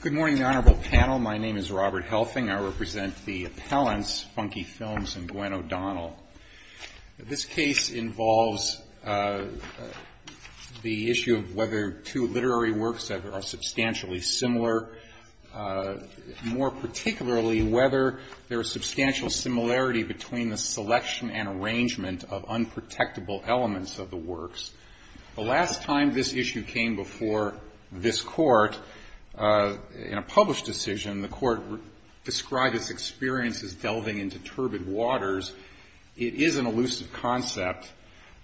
Good morning, the Honorable Panel. My name is Robert Helfing. I represent the appellants, FUNKY FILMS and Gwen O'Donnell. This case involves the issue of whether two literary works that are substantially similar, more particularly whether there is substantial similarity between the selection and arrangement of unprotectable elements of the works. The last time this issue came before this Court, in a published decision, the Court described its experience as delving into turbid waters. It is an elusive concept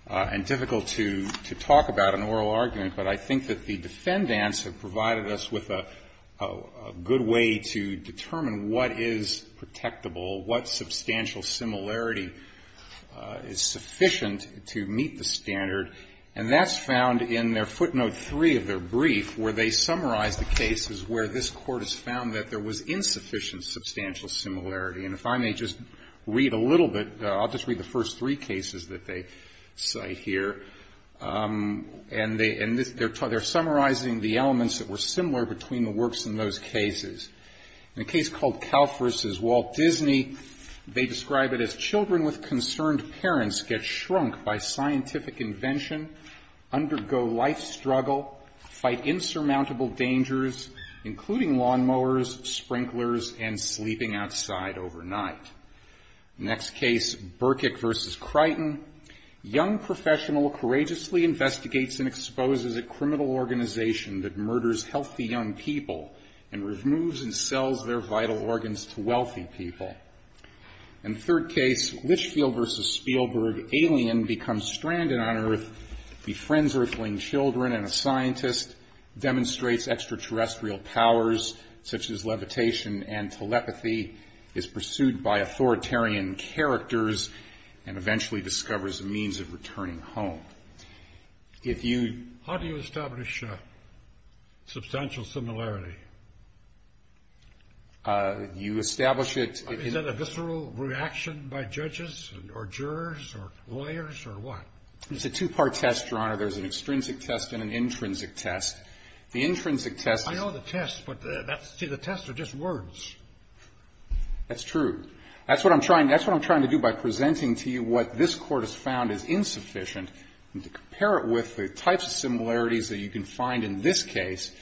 and difficult to talk about in oral argument, but I think that the defendants have provided us with a good way to determine what is protectable, what substantial similarity is sufficient to meet the standard. And that's found in their footnote 3 of their brief, where they summarize the cases where this Court has found that there was insufficient substantial similarity. And if I may just read a little bit, I'll just read the first three cases that they cite here. And they're summarizing the elements that were similar between the works in those cases. In a case called Kalf v. Walt Disney, they describe it as children with concerned parents get shrunk by scientific invention, undergo life struggle, fight insurmountable dangers, including lawnmowers, sprinklers, and sleeping outside overnight. Next case, Berkik v. Crichton, young professional courageously investigates and exposes a criminal organization that murders healthy young people and removes and sells their vital organs to wealthy people. In third case, Litchfield v. Spielberg, alien becomes stranded on Earth, befriends Earthling children and a scientist, demonstrates extraterrestrial powers such as levitation and telepathy, is pursued by authoritarian characters, and eventually discovers a means of returning home. If you... How do you establish substantial similarity? You establish it... Is that a visceral reaction by judges or jurors or lawyers or what? It's a two-part test, Your Honor. There's an extrinsic test and an intrinsic test. The intrinsic test... I know the test, but the test are just words. That's true. That's what I'm trying to do by presenting to you what this Court has found is insufficient and to compare it with the types of similarities that you can find in this case,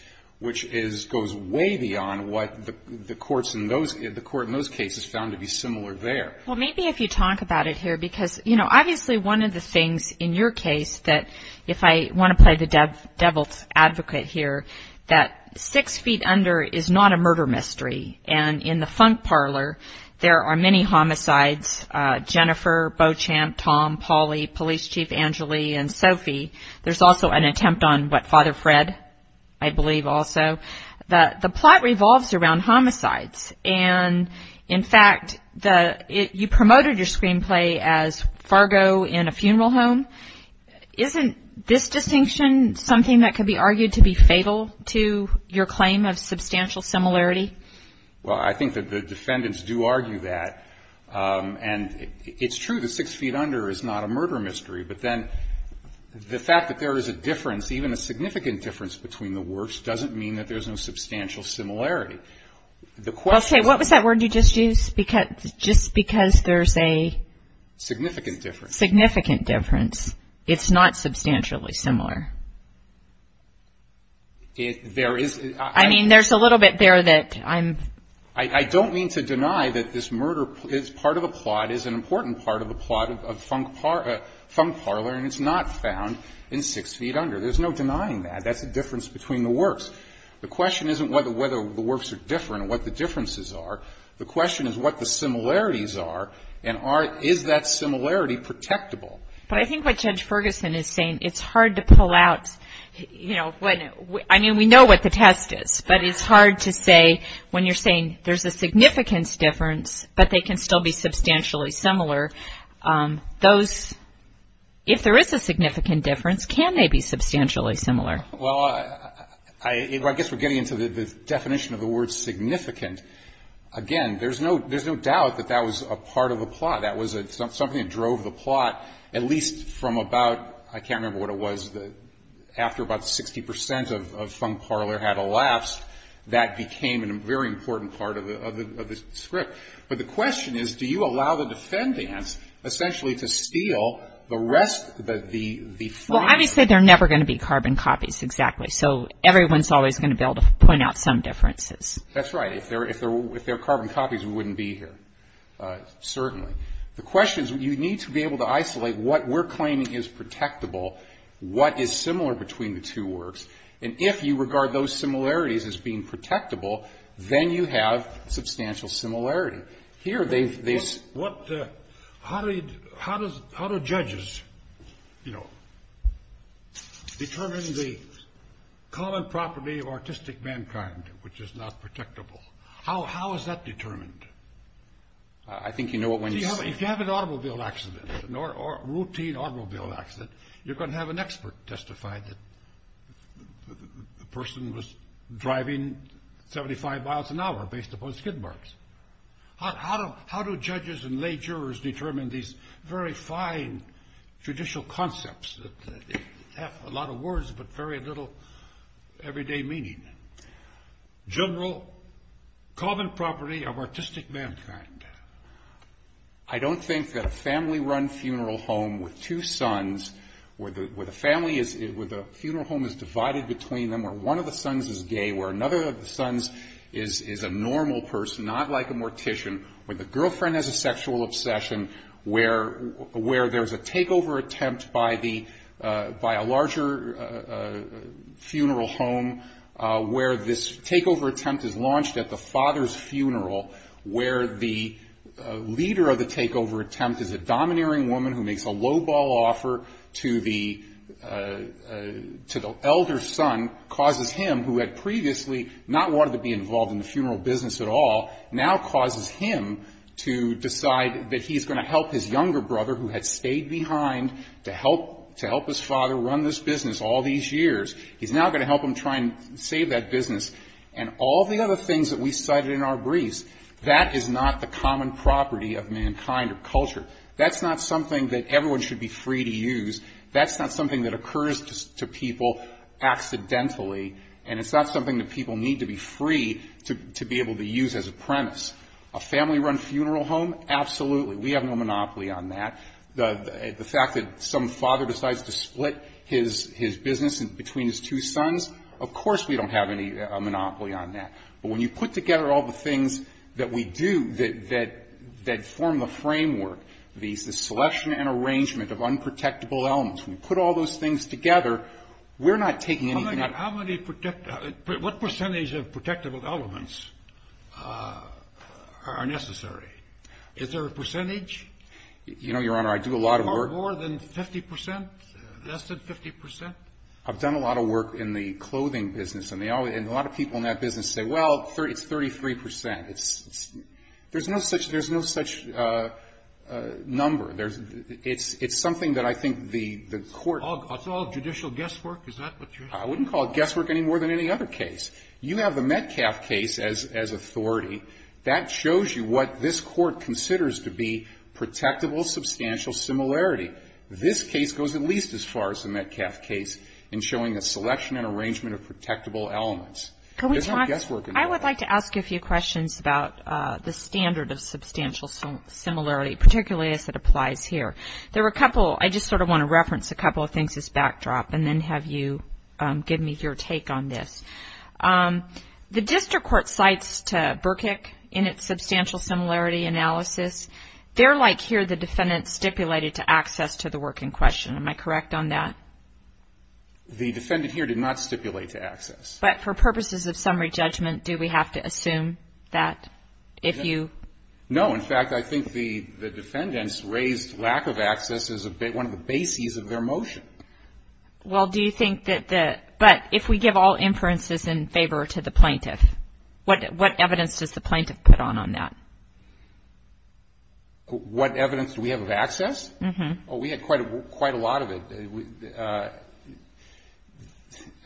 which goes way beyond what the courts in those cases found to be similar there. Well, maybe if you talk about it here because, you know, obviously one of the things in your case that, if I want to play the devil's advocate here, that six feet under is not a murder mystery. And in the funk parlor, there are many homicides, Jennifer, Beauchamp, Tom, Polly, Police Chief Angeli and Sophie. There's also an attempt on what, Father Fred, I believe, also. The plot revolves around homicides. And, in fact, you promoted your screenplay as Fargo in a funeral home. Isn't this distinction something that could be argued to be fatal to your claim of substantial similarity? Well, I think that the defendants do argue that. And it's true that six feet under is not a murder mystery. But then the fact that there is a difference, even a significant difference, between the works doesn't mean that there's no substantial similarity. The question is Okay. What was that word you just used? Just because there's a Significant difference. Significant difference. It's not substantially similar. There is I mean, there's a little bit there that I'm I don't mean to deny that this murder is part of a plot, is an important part of a plot of funk parlor, and it's not found in Six Feet Under. There's no denying that. That's a difference between the works. The question isn't whether the works are different and what the differences are. The question is what the similarities are, and is that similarity protectable? But I think what Judge Ferguson is saying, it's hard to pull out, you know, I mean, we know what the test is, but it's hard to say when you're saying there's a significance difference, but they can still be substantially similar, those, if there is a significant difference, can they be substantially similar? Well, I guess we're getting into the definition of the word significant. Again, there's no doubt that that was a part of a plot. That was something that drove the plot, at least from about, I can't remember what it was, after about 60% of funk parlor had elapsed, that became a very important part of the script. But the question is, do you allow the defendants essentially to steal the rest of the Well, obviously they're never going to be carbon copies, exactly. So everyone's always going to be able to point out some differences. That's right. If they're carbon copies, we wouldn't be here, certainly. The question is, you need to be able to isolate what we're claiming is protectable, what is similar between the two works, and if you regard those similarities as being protectable, then you have substantial similarity. Here they've How do judges determine the common property of artistic mankind, which is not protectable? How is that determined? I think you know what one's If you have an automobile accident, a routine automobile accident, you're going to have an expert testify that the person was driving 75 miles an hour based upon skid marks. How do judges and lay jurors determine these very fine judicial concepts that have a lot of words but very little everyday meaning? General, common property of artistic mankind. I don't think that a family-run funeral home with two sons, where the family is, where the funeral home is divided between them, where one of the sons is gay, where another of the sons is a normal person, not like a mortician, where the girlfriend has a sexual obsession, where there's a takeover attempt by a larger funeral home, where this takeover attempt is launched at the father's funeral, where the leader of the takeover attempt is a domineering woman who makes a lowball offer to the elder son, causes him, who had previously not wanted to be involved in the funeral business at all, now causes him to decide that he's going to help his younger brother, who had stayed behind to help his father run this business all these years, he's now going to help him try and save that business. And all the other things that we cited in our briefs, that is not the common property of mankind or culture. That's not something that everyone should be free to use. That's not something that occurs to people accidentally. And it's not something that people need to be free to be able to use as a premise. A family-run funeral home, absolutely. We have no monopoly on that. The fact that some father decides to split his business between his two sons, of course we don't have any monopoly on that. But when you put together all the things that we do that form the framework, the selection and arrangement of unprotectable elements, when you put all those things together, we're not taking anything out. What percentage of protectable elements are necessary? Is there a percentage? You know, Your Honor, I do a lot of work. More than 50 percent? Less than 50 percent? I've done a lot of work in the clothing business, and a lot of people in that business say, well, it's 33 percent. There's no such number. It's something that I think the Court It's all judicial guesswork? Is that what you're saying? I wouldn't call it guesswork any more than any other case. You have the Metcalf case as authority. That shows you what this Court considers to be protectable substantial similarity. This case goes at least as far as the Metcalf case in showing a selection and arrangement of protectable elements. I would like to ask you a few questions about the standard of substantial similarity, particularly as it applies here. There were a couple. I just sort of want to reference a couple of things as backdrop, and then have you give me your take on this. The district court cites to Burkick in its substantial similarity analysis. They're like here the defendant stipulated to access to the work in question. Am I correct on that? The defendant here did not stipulate to access. But for purposes of summary judgment, do we have to assume that if you No. In fact, I think the defendants raised lack of access as one of the bases of their motion. Well, do you think that the, but if we give all inferences in favor to the plaintiff, what evidence does the plaintiff put on on that? What evidence do we have of access? Oh, we had quite a lot of it.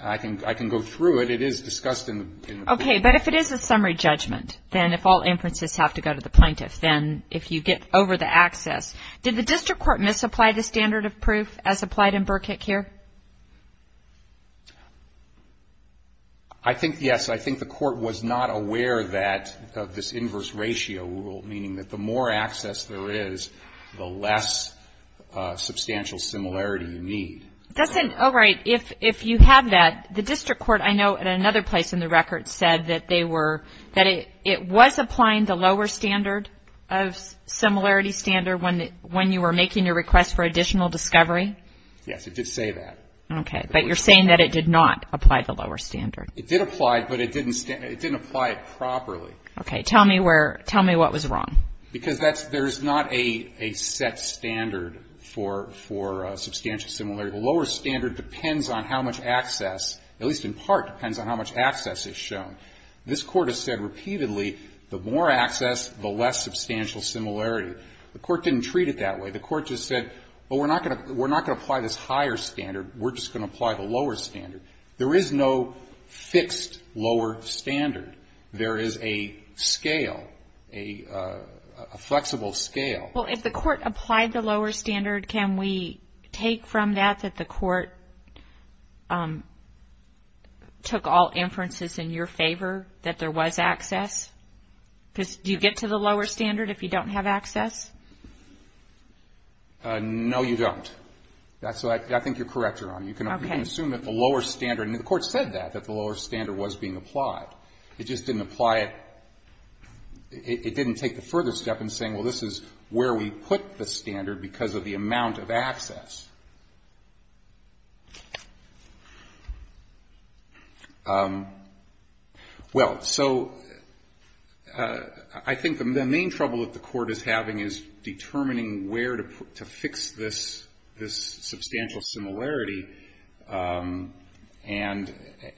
I can go through it. It is discussed in the Okay, but if it is a summary judgment, then if all inferences have to go to the plaintiff, then if you get over the access. Did the district court misapply the standard of proof as applied in Burkick here? I think, yes. I think the court was not aware of that, of this inverse ratio rule, meaning that the more access there is, the less substantial similarity you need. Doesn't, oh, right. If you have that, the district court, I know at another place in the record, said that they were, that it was applying the lower standard of similarity standard when you were making your request for additional discovery. Yes, it did say that. Okay. But you're saying that it did not apply the lower standard. It did apply, but it didn't apply it properly. Okay. Tell me where, tell me what was wrong. Because that's, there's not a set standard for substantial similarity. The lower standard depends on how much access, at least in part, depends on how much access is shown. This court has said repeatedly, the more access, the less substantial similarity. The court didn't treat it that way. The court just said, well, we're not going to apply this higher standard. We're just going to apply the lower standard. There is no fixed lower standard. There is a scale, a flexible scale. Well, if the court applied the lower standard, can we take from that that the court took all inferences in your favor, that there was access? Because do you get to the lower standard if you don't have access? No, you don't. So I think you're correct, Your Honor. You can assume that the lower standard, and the court said that, that the lower standard was being applied. It just didn't apply it. It didn't take the further step in saying, well, this is where we put the standard because of the amount of access. Well, so I think the main trouble that the court is having is determining where to fix this substantial similarity. And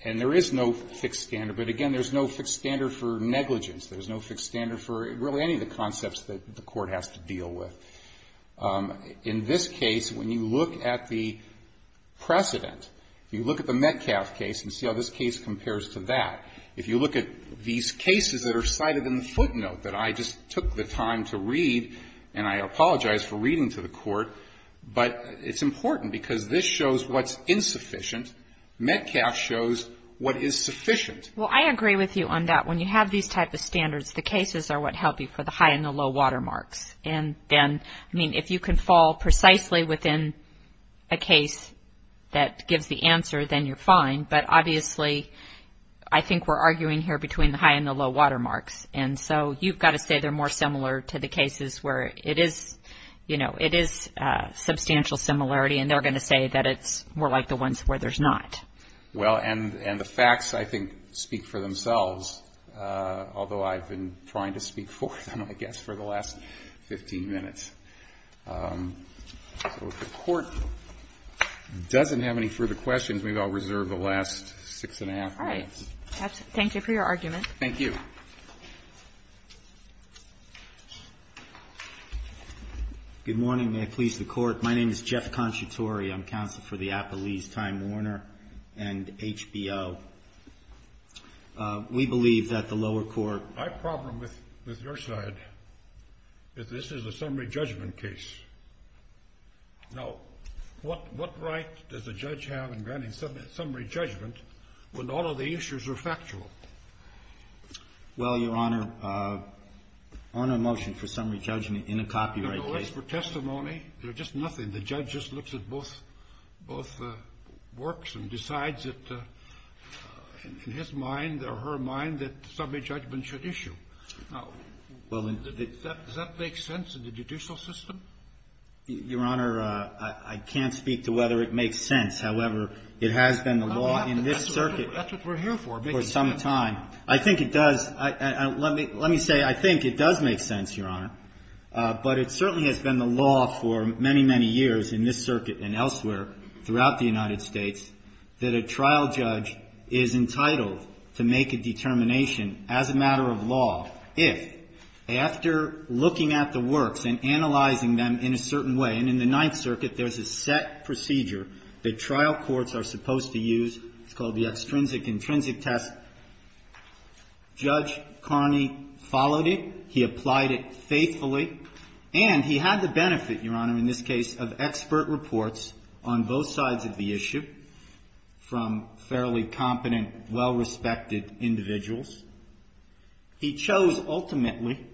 there is no fixed standard. But, again, there's no fixed standard for negligence. There's no fixed standard for really any of the concepts that the court has to deal with. In this case, when you look at the precedent, you look at the Metcalf case and see how this case compares to that. If you look at these cases that are cited in the footnote that I just took the time to read, and I apologize for reading to the court, but it's important because this shows what's insufficient. Metcalf shows what is sufficient. Well, I agree with you on that. When you have these type of standards, the cases are what help you for the high and the low watermarks. And then, I mean, if you can fall precisely within a case that gives the answer, then you're fine. But, obviously, I think we're arguing here between the high and the low watermarks. And so you've got to say they're more similar to the cases where it is, you know, it is substantial similarity and they're going to say that it's more like the ones where there's not. Well, and the facts, I think, speak for themselves, although I've been trying to speak for them, I guess, for the last 15 minutes. So if the court doesn't have any further questions, maybe I'll reserve the last six and a half minutes. All right. Thank you for your argument. Thank you. Good morning. May it please the Court. My name is Jeff Conciatori. I'm counsel for the Appalese Time Warner and HBO. We believe that the lower court... My problem with your side is this is a summary judgment case. Now, what right does a judge have in granting summary judgment when all of the issues are factual? Well, Your Honor, on a motion for summary judgment in a copyright case... No, no. It's for testimony. They're just nothing. And the judge just looks at both works and decides that, in his mind or her mind, that summary judgment should issue. Now, does that make sense in the judicial system? Your Honor, I can't speak to whether it makes sense. However, it has been the law in this circuit... That's what we're here for, making sense. ...for some time. I think it does. Let me say I think it does make sense, Your Honor, but it certainly has been the law for many, many years in this circuit and elsewhere throughout the United States that a trial judge is entitled to make a determination as a matter of law if, after looking at the works and analyzing them in a certain way, and in the Ninth Circuit there's a set procedure that trial courts are supposed to use. It's called the extrinsic-intrinsic test. Judge Carney followed it. He applied it faithfully. And he had the benefit, Your Honor, in this case, of expert reports on both sides of the issue from fairly competent, well-respected individuals. He chose ultimately,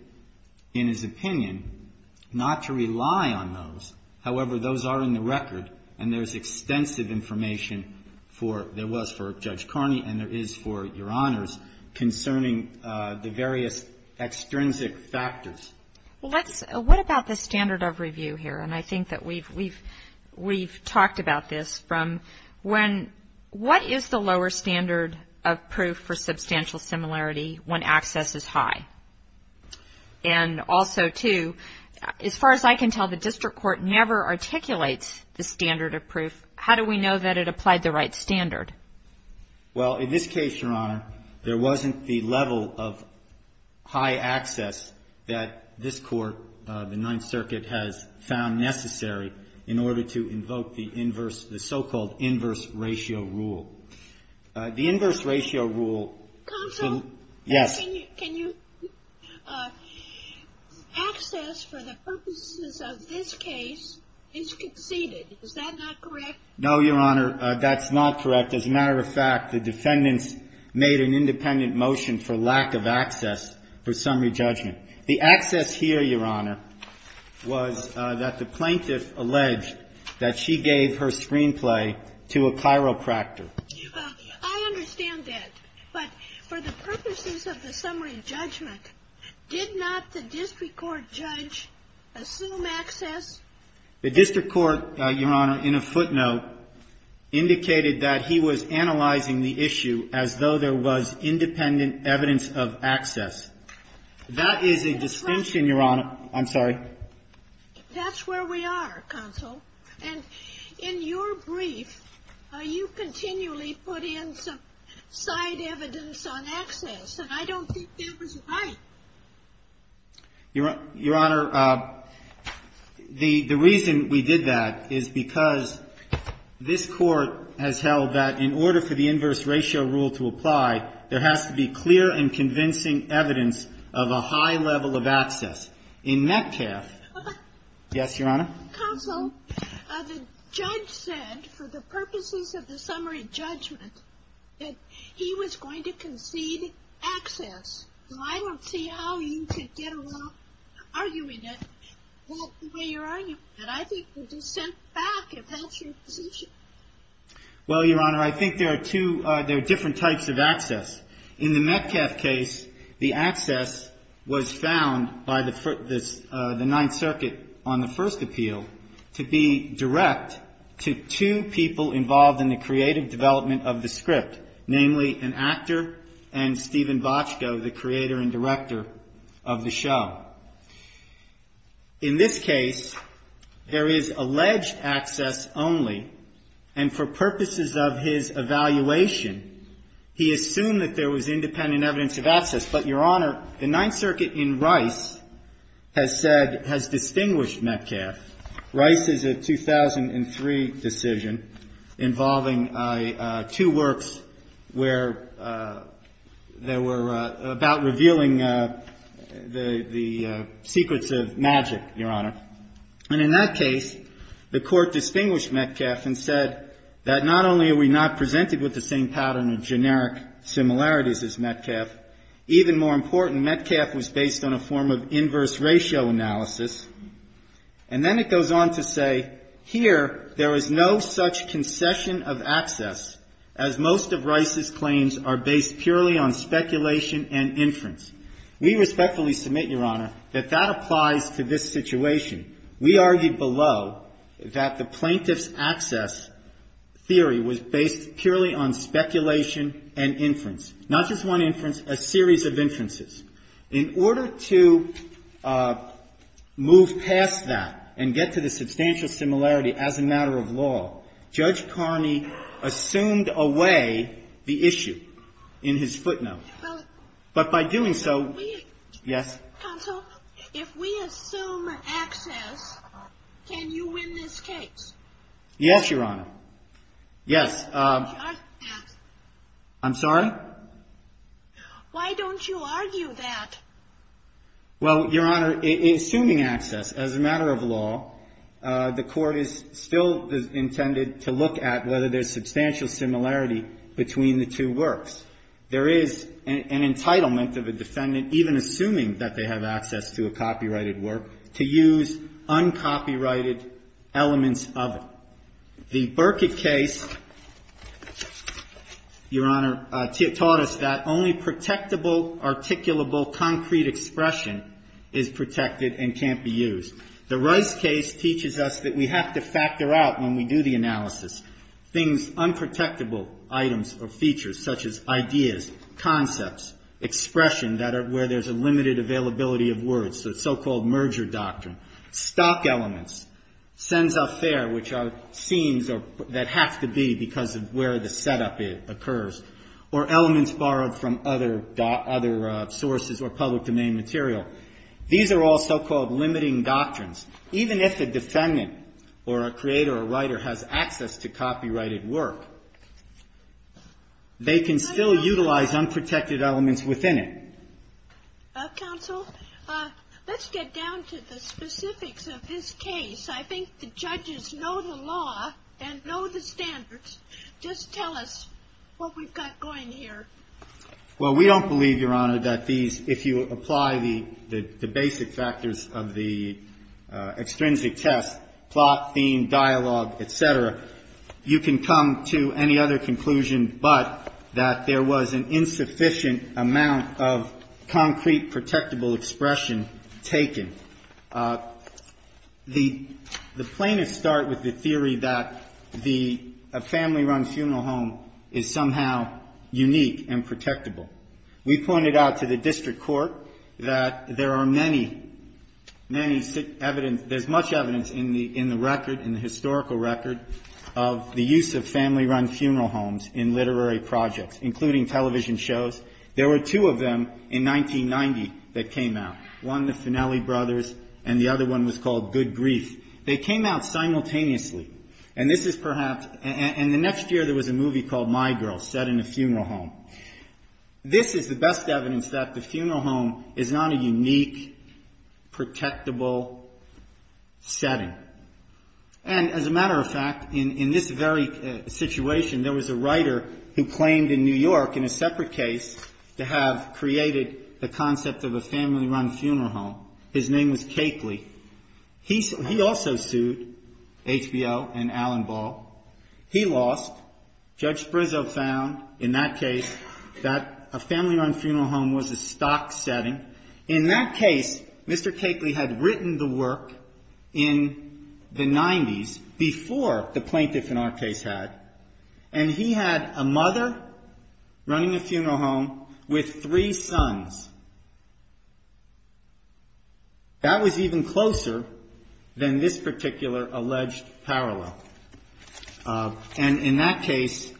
in his opinion, not to rely on those. However, those are in the record and there's extensive information for, there was for Judge Carney and there is for Your Honors, concerning the various extrinsic factors. Well, let's, what about the standard of review here? And I think that we've talked about this from when, what is the lower standard of proof for substantial similarity when access is high? And also, too, as far as I can tell, the district court never articulates the standard of proof. How do we know that it applied the right standard? Well, in this case, Your Honor, there wasn't the level of high access that this court, the Ninth Circuit, has found necessary in order to invoke the inverse, the so-called inverse ratio rule. The inverse ratio rule. Counsel? Yes. Can you, access for the purposes of this case is conceded. Is that not correct? No, Your Honor. That's not correct. As a matter of fact, the defendants made an independent motion for lack of access for summary judgment. The access here, Your Honor, was that the plaintiff alleged that she gave her screenplay to a chiropractor. I understand that. But for the purposes of the summary judgment, did not the district court judge assume access? The district court, Your Honor, in a footnote, indicated that he was analyzing the issue as though there was independent evidence of access. That is a distinction, Your Honor. I'm sorry. That's where we are, Counsel. And in your brief, you continually put in some side evidence on access, and I don't think that was right. Your Honor, the reason we did that is because this court has held that in order for the inverse ratio rule to apply, there has to be clear and convincing evidence of a high level of access. In that case, yes, Your Honor? Counsel, the judge said for the purposes of the summary judgment, that he was going to concede access. Well, I don't see how you could get along arguing that. Well, the way you're arguing that, I think would dissent back if that's your position. Well, Your Honor, I think there are two, there are different types of access. In the Metcalf case, the access was found by the Ninth Circuit on the first appeal to be direct to two people involved in the creative development of the script, namely an actor and Stephen Bochco, the creator and director of the show. In this case, there is alleged access only, and for purposes of his evaluation, he assumed that there was independent evidence of access. But, Your Honor, the Ninth Circuit in Rice has said, has distinguished Metcalf. Rice is a 2003 decision involving two works where there were, about revealing the secrets of magic, Your Honor. And in that case, the Court distinguished Metcalf and said that not only are we not presented with the same pattern of generic similarities as Metcalf, even more important, Metcalf was based on a form of inverse ratio analysis. And then it goes on to say, here there is no such concession of access as most of Rice's claims are based purely on speculation and inference. We respectfully submit, Your Honor, that that applies to this situation. We argued below that the plaintiff's access theory was based purely on speculation and inference, not just one inference, a series of inferences. In order to move past that and get to the substantial similarity as a matter of law, Judge Carney assumed away the issue in his footnote. But by doing so, yes? Counsel, if we assume access, can you win this case? Yes, Your Honor. Yes. I'm sorry? Why don't you argue that? Well, Your Honor, assuming access as a matter of law, the Court is still intended to look at whether there's substantial similarity between the two works. There is an entitlement of a defendant, even assuming that they have access to a copyrighted work, to use uncopyrighted elements of it. The Burkitt case, Your Honor, taught us that only protectable, articulable, concrete expression is protected and can't be used. The Rice case teaches us that we have to factor out when we do the analysis things unprotectable, items or features, such as ideas, concepts, expression, where there's a limited availability of words, the so-called merger doctrine. Stock elements. Cens a faire, which are scenes that have to be because of where the setup occurs. Or elements borrowed from other sources or public domain material. These are all so-called limiting doctrines. Even if a defendant or a creator or writer has access to copyrighted work, they can still utilize unprotected elements within it. Counsel, let's get down to the specifics of this case. I think the judges know the law and know the standards. Just tell us what we've got going here. Well, we don't believe, Your Honor, that these, if you apply the basic factors of the extrinsic test, plot, theme, dialogue, et cetera, you can come to any other conclusion but that there was an insufficient amount of concrete, protectable expression taken. The plaintiffs start with the theory that the family-run funeral home is somehow unique and protectable. We pointed out to the district court that there are many, many evidence, there's much evidence in the record, in the historical record, of the use of family-run funeral homes in literary projects, including television shows, there were two of them in 1990 that came out. One, the Finelli Brothers, and the other one was called Good Grief. They came out simultaneously. And this is perhaps, and the next year there was a movie called My Girl, set in a funeral home. This is the best evidence that the funeral home is not a unique, protectable setting. And as a matter of fact, in this very situation, there was a writer who claimed in New York, in a separate case, to have created the concept of a family-run funeral home. His name was Cakley. He also sued HBO and Allen Ball. He lost. Judge Brizzo found, in that case, that a family-run funeral home was a stock setting. In that case, Mr. Cakley had written the work in the 90s, before the plaintiff, in our case, had. And he had a mother running a funeral home with three sons. That was even closer than this particular alleged parallel. And in that case,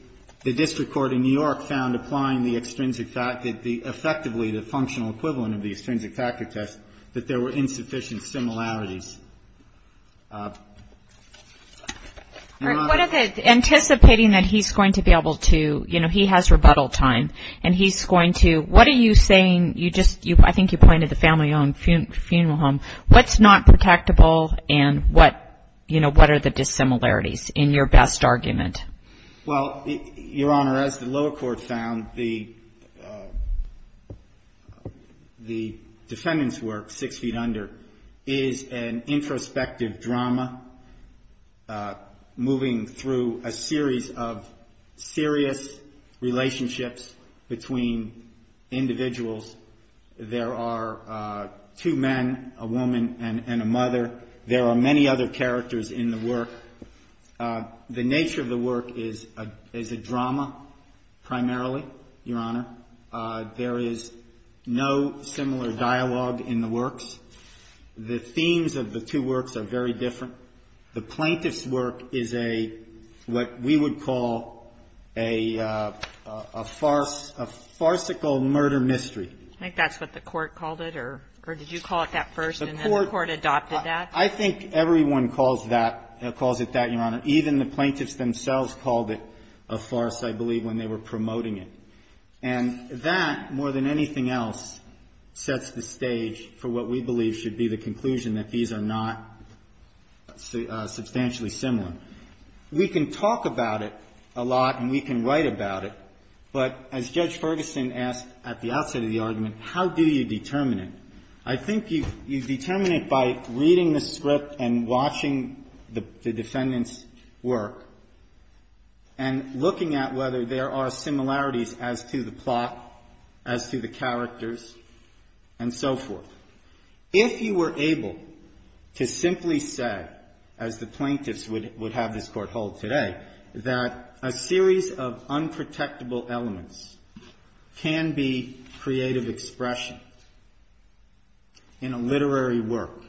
the district court in New York found applying the extrinsic factor, effectively the functional equivalent of the extrinsic factor test, that there were insufficient similarities. Your Honor. Anticipating that he's going to be able to, you know, he has rebuttal time. And he's going to, what are you saying, you just, I think you pointed to the family-owned funeral home. What's not protectable and what, you know, what are the dissimilarities in your best argument? Well, Your Honor, as the lower court found, the defendant's work, Six Feet Under, is an introspective drama, moving through a series of serious relationships between individuals. There are two men, a woman and a mother. There are many other characters in the work. The nature of the work is a drama, primarily, Your Honor. There is no similar dialogue in the works. The themes of the two works are very different. The plaintiff's work is a, what we would call a farcical murder mystery. I think that's what the court called it, or did you call it that first and then the court adopted that? I think everyone calls that, calls it that, Your Honor. Even the plaintiffs themselves called it a farce, I believe, when they were promoting it. And that, more than anything else, sets the stage for what we believe should be the conclusion, that these are not substantially similar. We can talk about it a lot and we can write about it, but as Judge Ferguson asked at the outset of the argument, how do you determine it? I think you determine it by reading the script and watching the defendant's work and looking at whether there are similarities as to the plot, as to the characters, and so forth. If you were able to simply say, as the plaintiffs would have this court hold today, that a series of unprotectable elements can be creative expression in a literary work,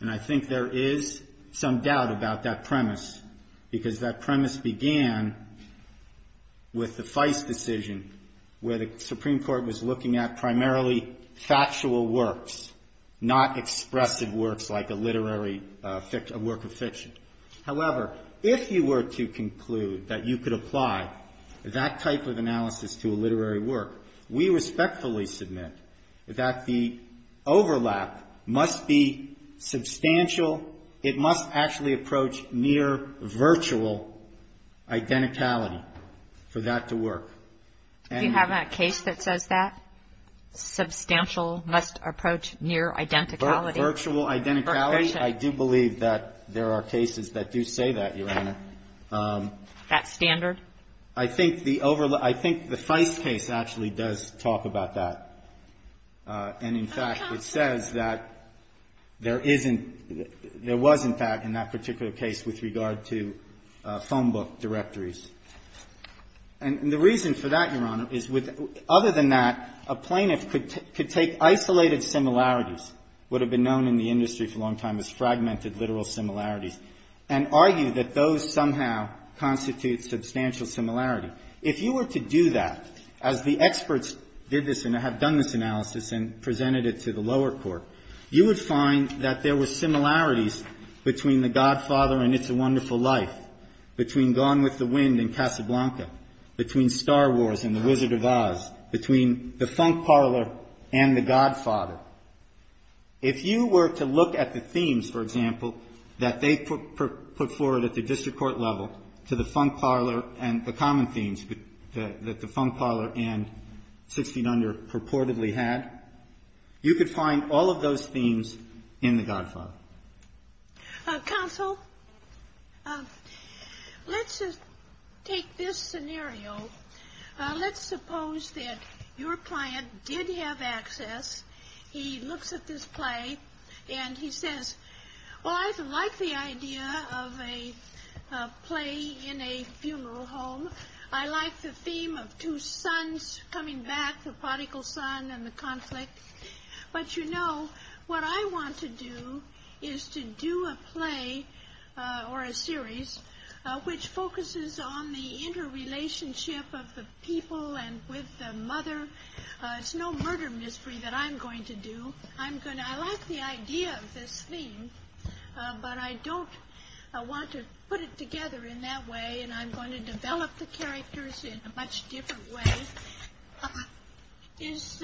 and I think there is some doubt about that premise, because that premise began with the Feist decision, where the Supreme Court was looking at primarily factual works, However, if you were to conclude that you could apply that type of analysis to a literary work, we respectfully submit that the overlap must be substantial. It must actually approach near virtual identicality for that to work. Do you have a case that says that? Substantial must approach near identicality? Virtual identicality? I do believe that there are cases that do say that, Your Honor. That standard? I think the Feist case actually does talk about that. And in fact, it says that there isn't — there was, in fact, in that particular case with regard to phone book directories. And the reason for that, Your Honor, is with — other than that, a plaintiff could take isolated similarities, what have been known in the industry for a long time as fragmented literal similarities, and argue that those somehow constitute substantial similarity. If you were to do that, as the experts did this and have done this analysis and presented it to the lower court, you would find that there were similarities between The Godfather and It's a Wonderful Life, between Gone with the Wind and Casablanca, between Star Wars and The Wizard of Oz, between the funk parlor and The Godfather. If you were to look at the themes, for example, that they put forward at the district court level to the funk parlor and the common themes that the funk parlor and 16 under purportedly had, you could find all of those themes in The Godfather. Counsel, let's take this scenario. Let's suppose that your client did have access. He looks at this play and he says, well, I like the idea of a play in a funeral home. I like the theme of two sons coming back, the prodigal son and the conflict. But you know, what I want to do is to do a play or a series which focuses on the interrelationship of the people and with the mother. It's no murder mystery that I'm going to do. I like the idea of this theme, but I don't want to put it together in that way and I'm going to develop the characters in a much different way. Is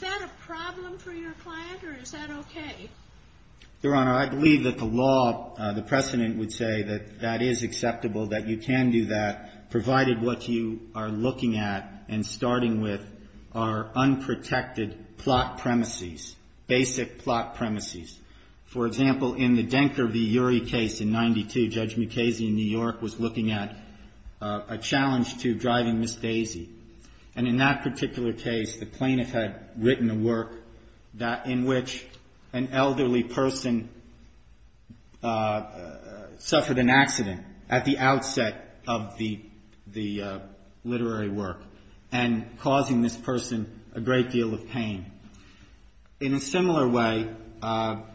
that a problem for your client or is that okay? Your Honor, I believe that the law, the precedent would say that that is acceptable, that you can do that provided what you are looking at and starting with are unprotected plot premises, basic plot premises. For example, in the Denker v. Urey case in 92, Judge Mukasey in New York was looking at a challenge to Driving Miss Daisy and in that particular case the plaintiff had written a work in which an elderly person suffered an accident at the outset of the literary work and causing this person a great deal of pain. In a similar way,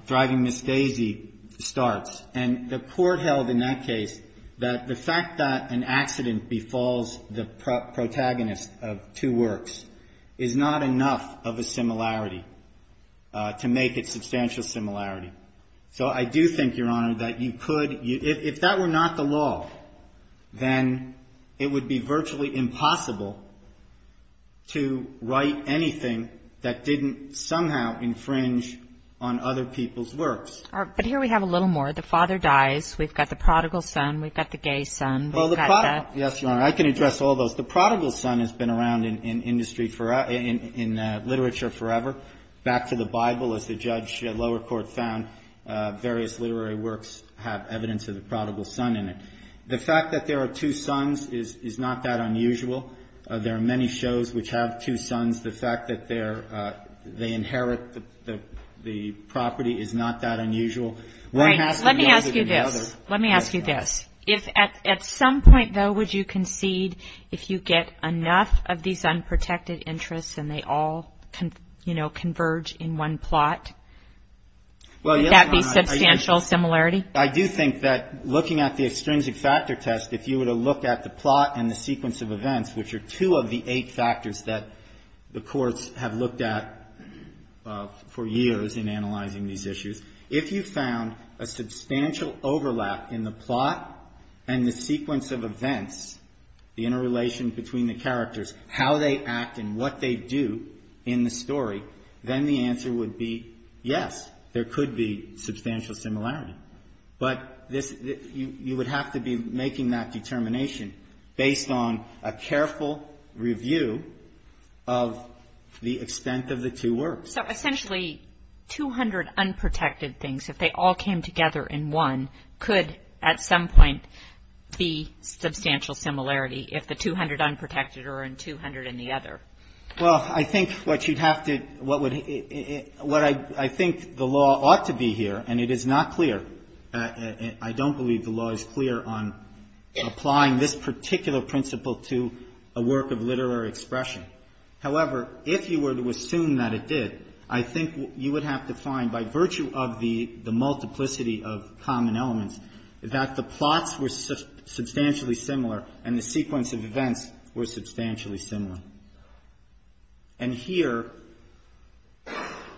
Driving Miss Daisy starts and the court held in that case that the fact that an accident befalls the protagonist of two works is not enough of a similarity to make it substantial similarity. So I do think, Your Honor, that you could, if that were not the law, then it would be virtually impossible to write anything that didn't somehow infringe on other people's works. But here we have a little more. The father dies. We've got the prodigal son. We've got the gay son. Yes, Your Honor. I can address all those. The prodigal son has been around in industry forever, in literature forever. Back to the Bible, as the judge lower court found, various literary works have evidence of the prodigal son in it. The fact that there are two sons is not that unusual. There are many shows which have two sons. The fact that they inherit the property is not that unusual. Right. Let me ask you this. Let me ask you this. At some point, though, would you concede if you get enough of these unprotected interests and they all converge in one plot, would that be substantial similarity? I do think that looking at the extrinsic factor test, if you were to look at the plot and the sequence of events, which are two of the eight factors that the courts have looked at for years in analyzing these issues, if you found a substantial overlap in the plot and the sequence of events, the interrelation between the characters, how they act and what they do in the story, then the answer would be yes, there could be substantial similarity. But you would have to be making that determination based on a careful review of the extent of the two works. So essentially 200 unprotected things, if they all came together in one, could at some point be substantial similarity if the 200 unprotected are in 200 in the other? Well, I think what you'd have to – what I think the law ought to be here, and it is not clear. I don't believe the law is clear on applying this particular principle to a work of literary expression. However, if you were to assume that it did, I think you would have to find by virtue of the multiplicity of common elements that the plots were substantially similar and the sequence of events were substantially similar. And here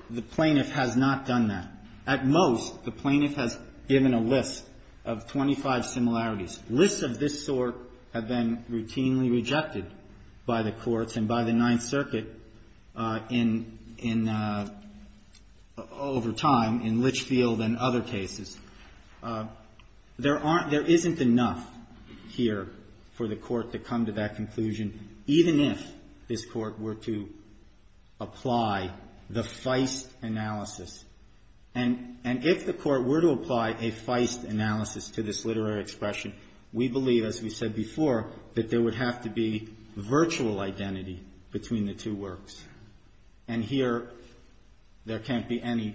the plaintiff has not done that. At most, the plaintiff has given a list of 25 similarities. Lists of this sort have been routinely rejected by the courts and by the Ninth Circuit in – There aren't – there isn't enough here for the court to come to that conclusion, even if this court were to apply the feist analysis. And if the court were to apply a feist analysis to this literary expression, we believe, as we said before, that there would have to be virtual identity between the two works. And here there can't be any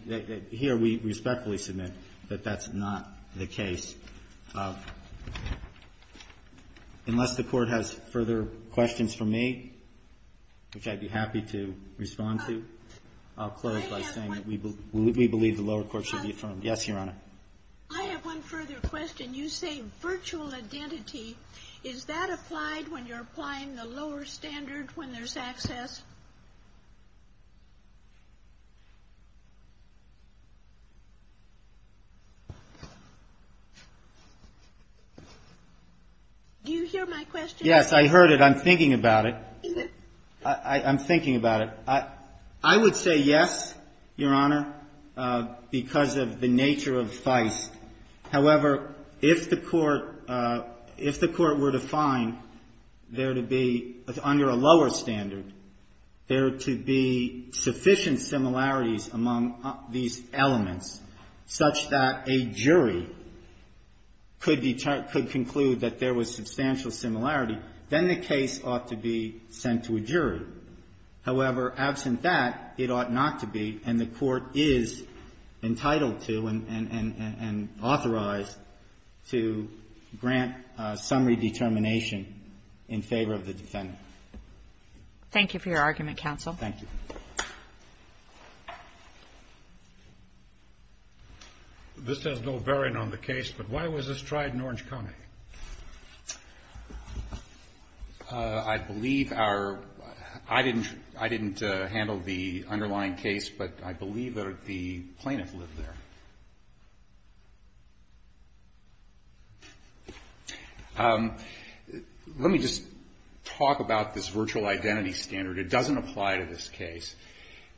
– here we respectfully submit that that's not the case. Unless the Court has further questions for me, which I'd be happy to respond to, I'll close by saying that we believe the lower court should be affirmed. Yes, Your Honor. I have one further question. You say virtual identity. Is that applied when you're applying the lower standard when there's access? Do you hear my question? Yes, I heard it. I'm thinking about it. I'm thinking about it. I would say yes, Your Honor, because of the nature of feist. However, if the court – if the court were to find there to be, under a lower standard, there to be sufficient similarities among these elements such that a jury could conclude that there was substantial similarity, then the case ought to be sent to a jury. However, absent that, it ought not to be, and the court is entitled to and authorized to grant summary determination in favor of the defendant. Thank you for your argument, counsel. Thank you. This has no bearing on the case, but why was this tried in Orange County? I believe our – I didn't handle the underlying case, but I believe that the plaintiff lived there. Let me just talk about this virtual identity standard. It doesn't apply to this case.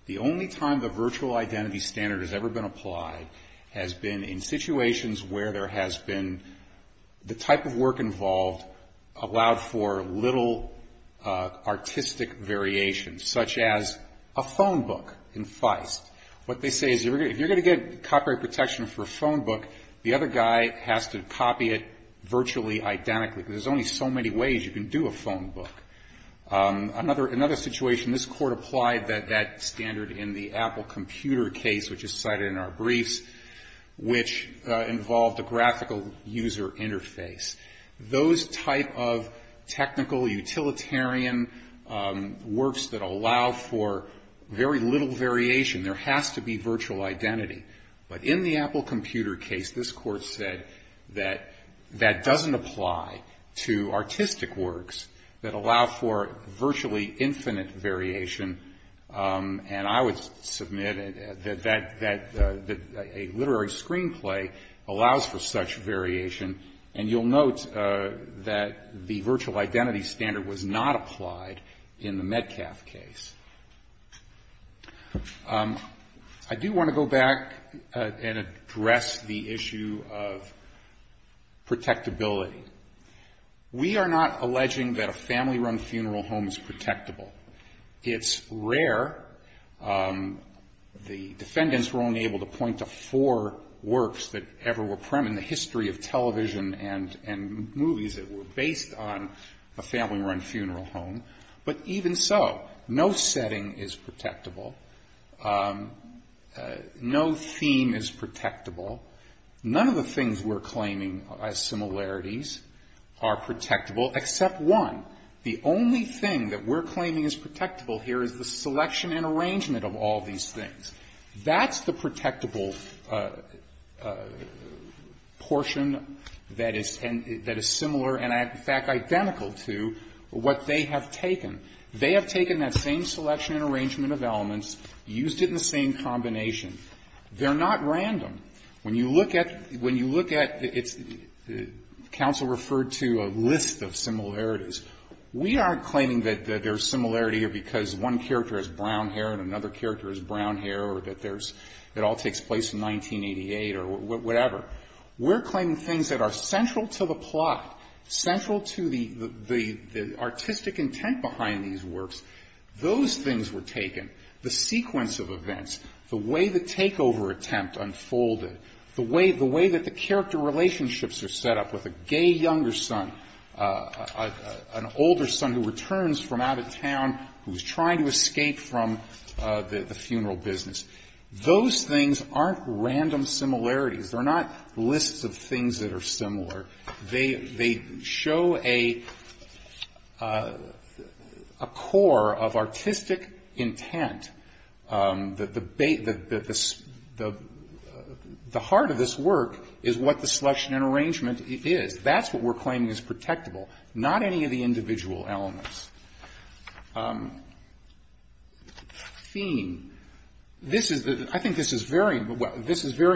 The only time the virtual identity standard has ever been applied has been in situations where there has been – the type of work involved allowed for little artistic variations, such as a phone book in feist. What they say is if you're going to get copyright protection for a phone book, the other guy has to copy it virtually identically. There's only so many ways you can do a phone book. Another situation, this court applied that standard in the Apple computer case, which is cited in our briefs, which involved a graphical user interface. Those type of technical, utilitarian works that allow for very little variation, there has to be virtual identity. But in the Apple computer case, this court said that that doesn't apply to artistic works that allow for virtually infinite variation. And I would submit that a literary screenplay allows for such variation. And you'll note that the virtual identity standard was not applied in the Metcalf case. I do want to go back and address the issue of protectability. We are not alleging that a family-run funeral home is protectable. It's rare. The defendants were only able to point to four works that ever were prem in the history of television and movies that were based on a family-run funeral home. But even so, no setting is protectable. No theme is protectable. None of the things we're claiming as similarities are protectable, except one. The only thing that we're claiming is protectable here is the selection and arrangement of all these things. That's the protectable portion that is similar and, in fact, identical to what they have taken. They have taken that same selection and arrangement of elements, used it in the same combination. They're not random. When you look at the council referred to a list of similarities, we aren't claiming that there's similarity here because one character has brown hair and another character has brown hair or that it all takes place in 1988 or whatever. We're claiming things that are central to the plot, central to the artistic intent behind these works. Those things were taken. The sequence of events, the way the takeover attempt unfolded, the way that the character relationships are set up with a gay younger son, an older son who returns from out of town, who's trying to escape from the funeral business, those things aren't random similarities. They're not lists of things that are similar. They show a core of artistic intent. The heart of this work is what the selection and arrangement is. That's what we're claiming is protectable, not any of the individual elements. Theme. I think this is very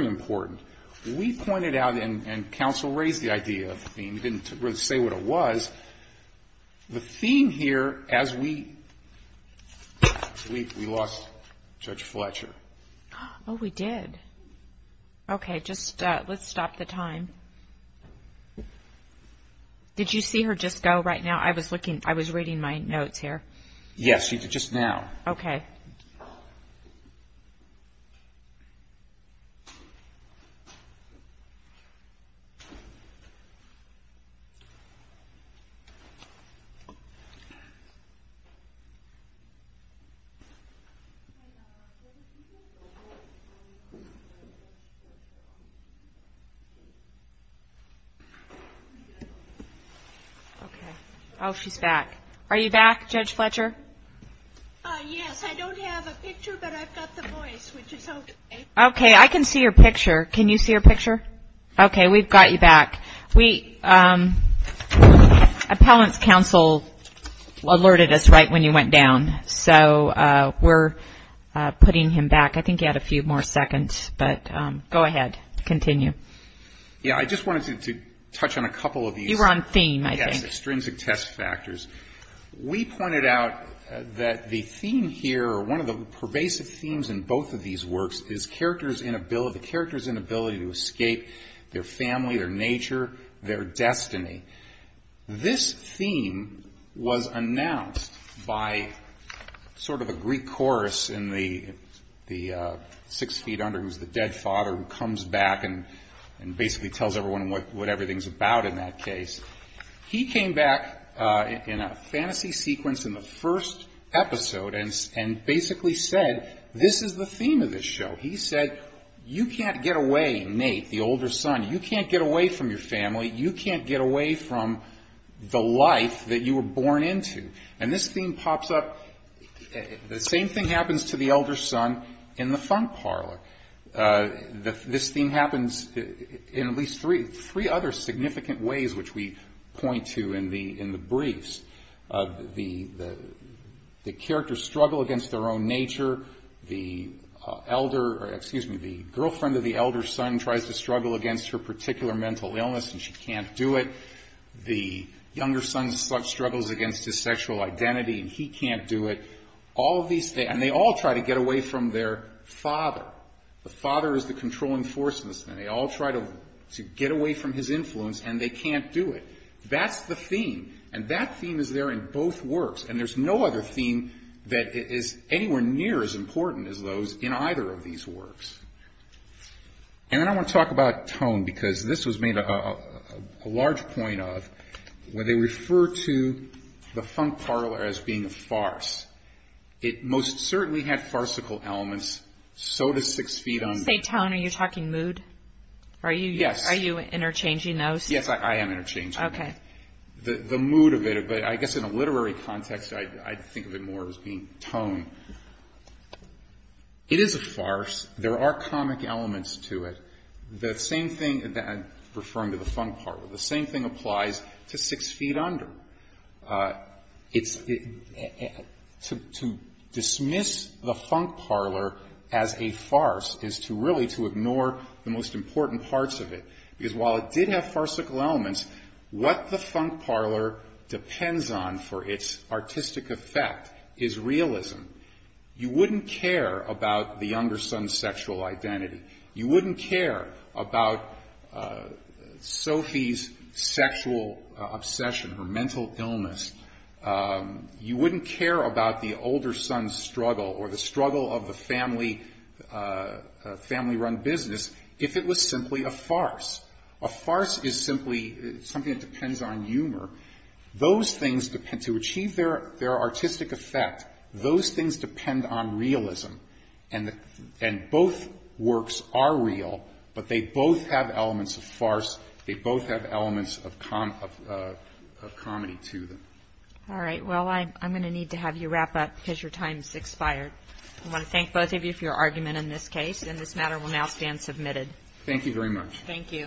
important. We pointed out and council raised the idea of the theme. We didn't really say what it was. The theme here as we lost Judge Fletcher. Oh, we did. Okay, let's stop the time. Did you see her just go right now? I was reading my notes here. Yes, just now. Okay. Okay. Oh, she's back. Yes, I don't have a picture, but I've got the voice, which is okay. Okay, I can see your picture. Can you see your picture? Okay, we've got you back. Appellant's counsel alerted us right when you went down, so we're putting him back. I think you had a few more seconds, but go ahead, continue. Yeah, I just wanted to touch on a couple of these. You were on theme, I think. Yes, extrinsic test factors. We pointed out that the theme here, or one of the pervasive themes in both of these works, is the character's inability to escape their family, their nature, their destiny. This theme was announced by sort of a Greek chorus in the Six Feet Under, who's the dead father who comes back and basically tells everyone what everything's about in that case. He came back in a fantasy sequence in the first episode and basically said, this is the theme of this show. He said, you can't get away, Nate, the older son, you can't get away from your family, you can't get away from the life that you were born into. And this theme pops up. The same thing happens to the elder son in the funk parlor. This theme happens in at least three other significant ways, which we point to in the briefs. The characters struggle against their own nature. The girlfriend of the elder son tries to struggle against her particular mental illness and she can't do it. The younger son struggles against his sexual identity and he can't do it. And they all try to get away from their father. The father is the controlling force in this thing. They all try to get away from his influence and they can't do it. That's the theme. And that theme is there in both works. And there's no other theme that is anywhere near as important as those in either of these works. And then I want to talk about tone because this was made a large point of when they refer to the funk parlor as being a farce. It most certainly had farcical elements, so does Six Feet Under. Say tone, are you talking mood? Yes. Are you interchanging those? Yes, I am interchanging them. Okay. The mood of it, but I guess in a literary context, I think of it more as being tone. It is a farce. There are comic elements to it. The same thing that I'm referring to the funk parlor. The same thing applies to Six Feet Under. To dismiss the funk parlor as a farce is really to ignore the most important parts of it. Because while it did have farcical elements, what the funk parlor depends on for its artistic effect is realism. You wouldn't care about the younger son's sexual identity. You wouldn't care about Sophie's sexual obsession or mental illness. You wouldn't care about the older son's struggle or the struggle of the family run business if it was simply a farce. A farce is simply something that depends on humor. Those things, to achieve their artistic effect, those things depend on realism. Both works are real, but they both have elements of farce. They both have elements of comedy to them. All right. Well, I'm going to need to have you wrap up because your time has expired. I want to thank both of you for your argument in this case. This matter will now stand submitted. Thank you very much. Thank you.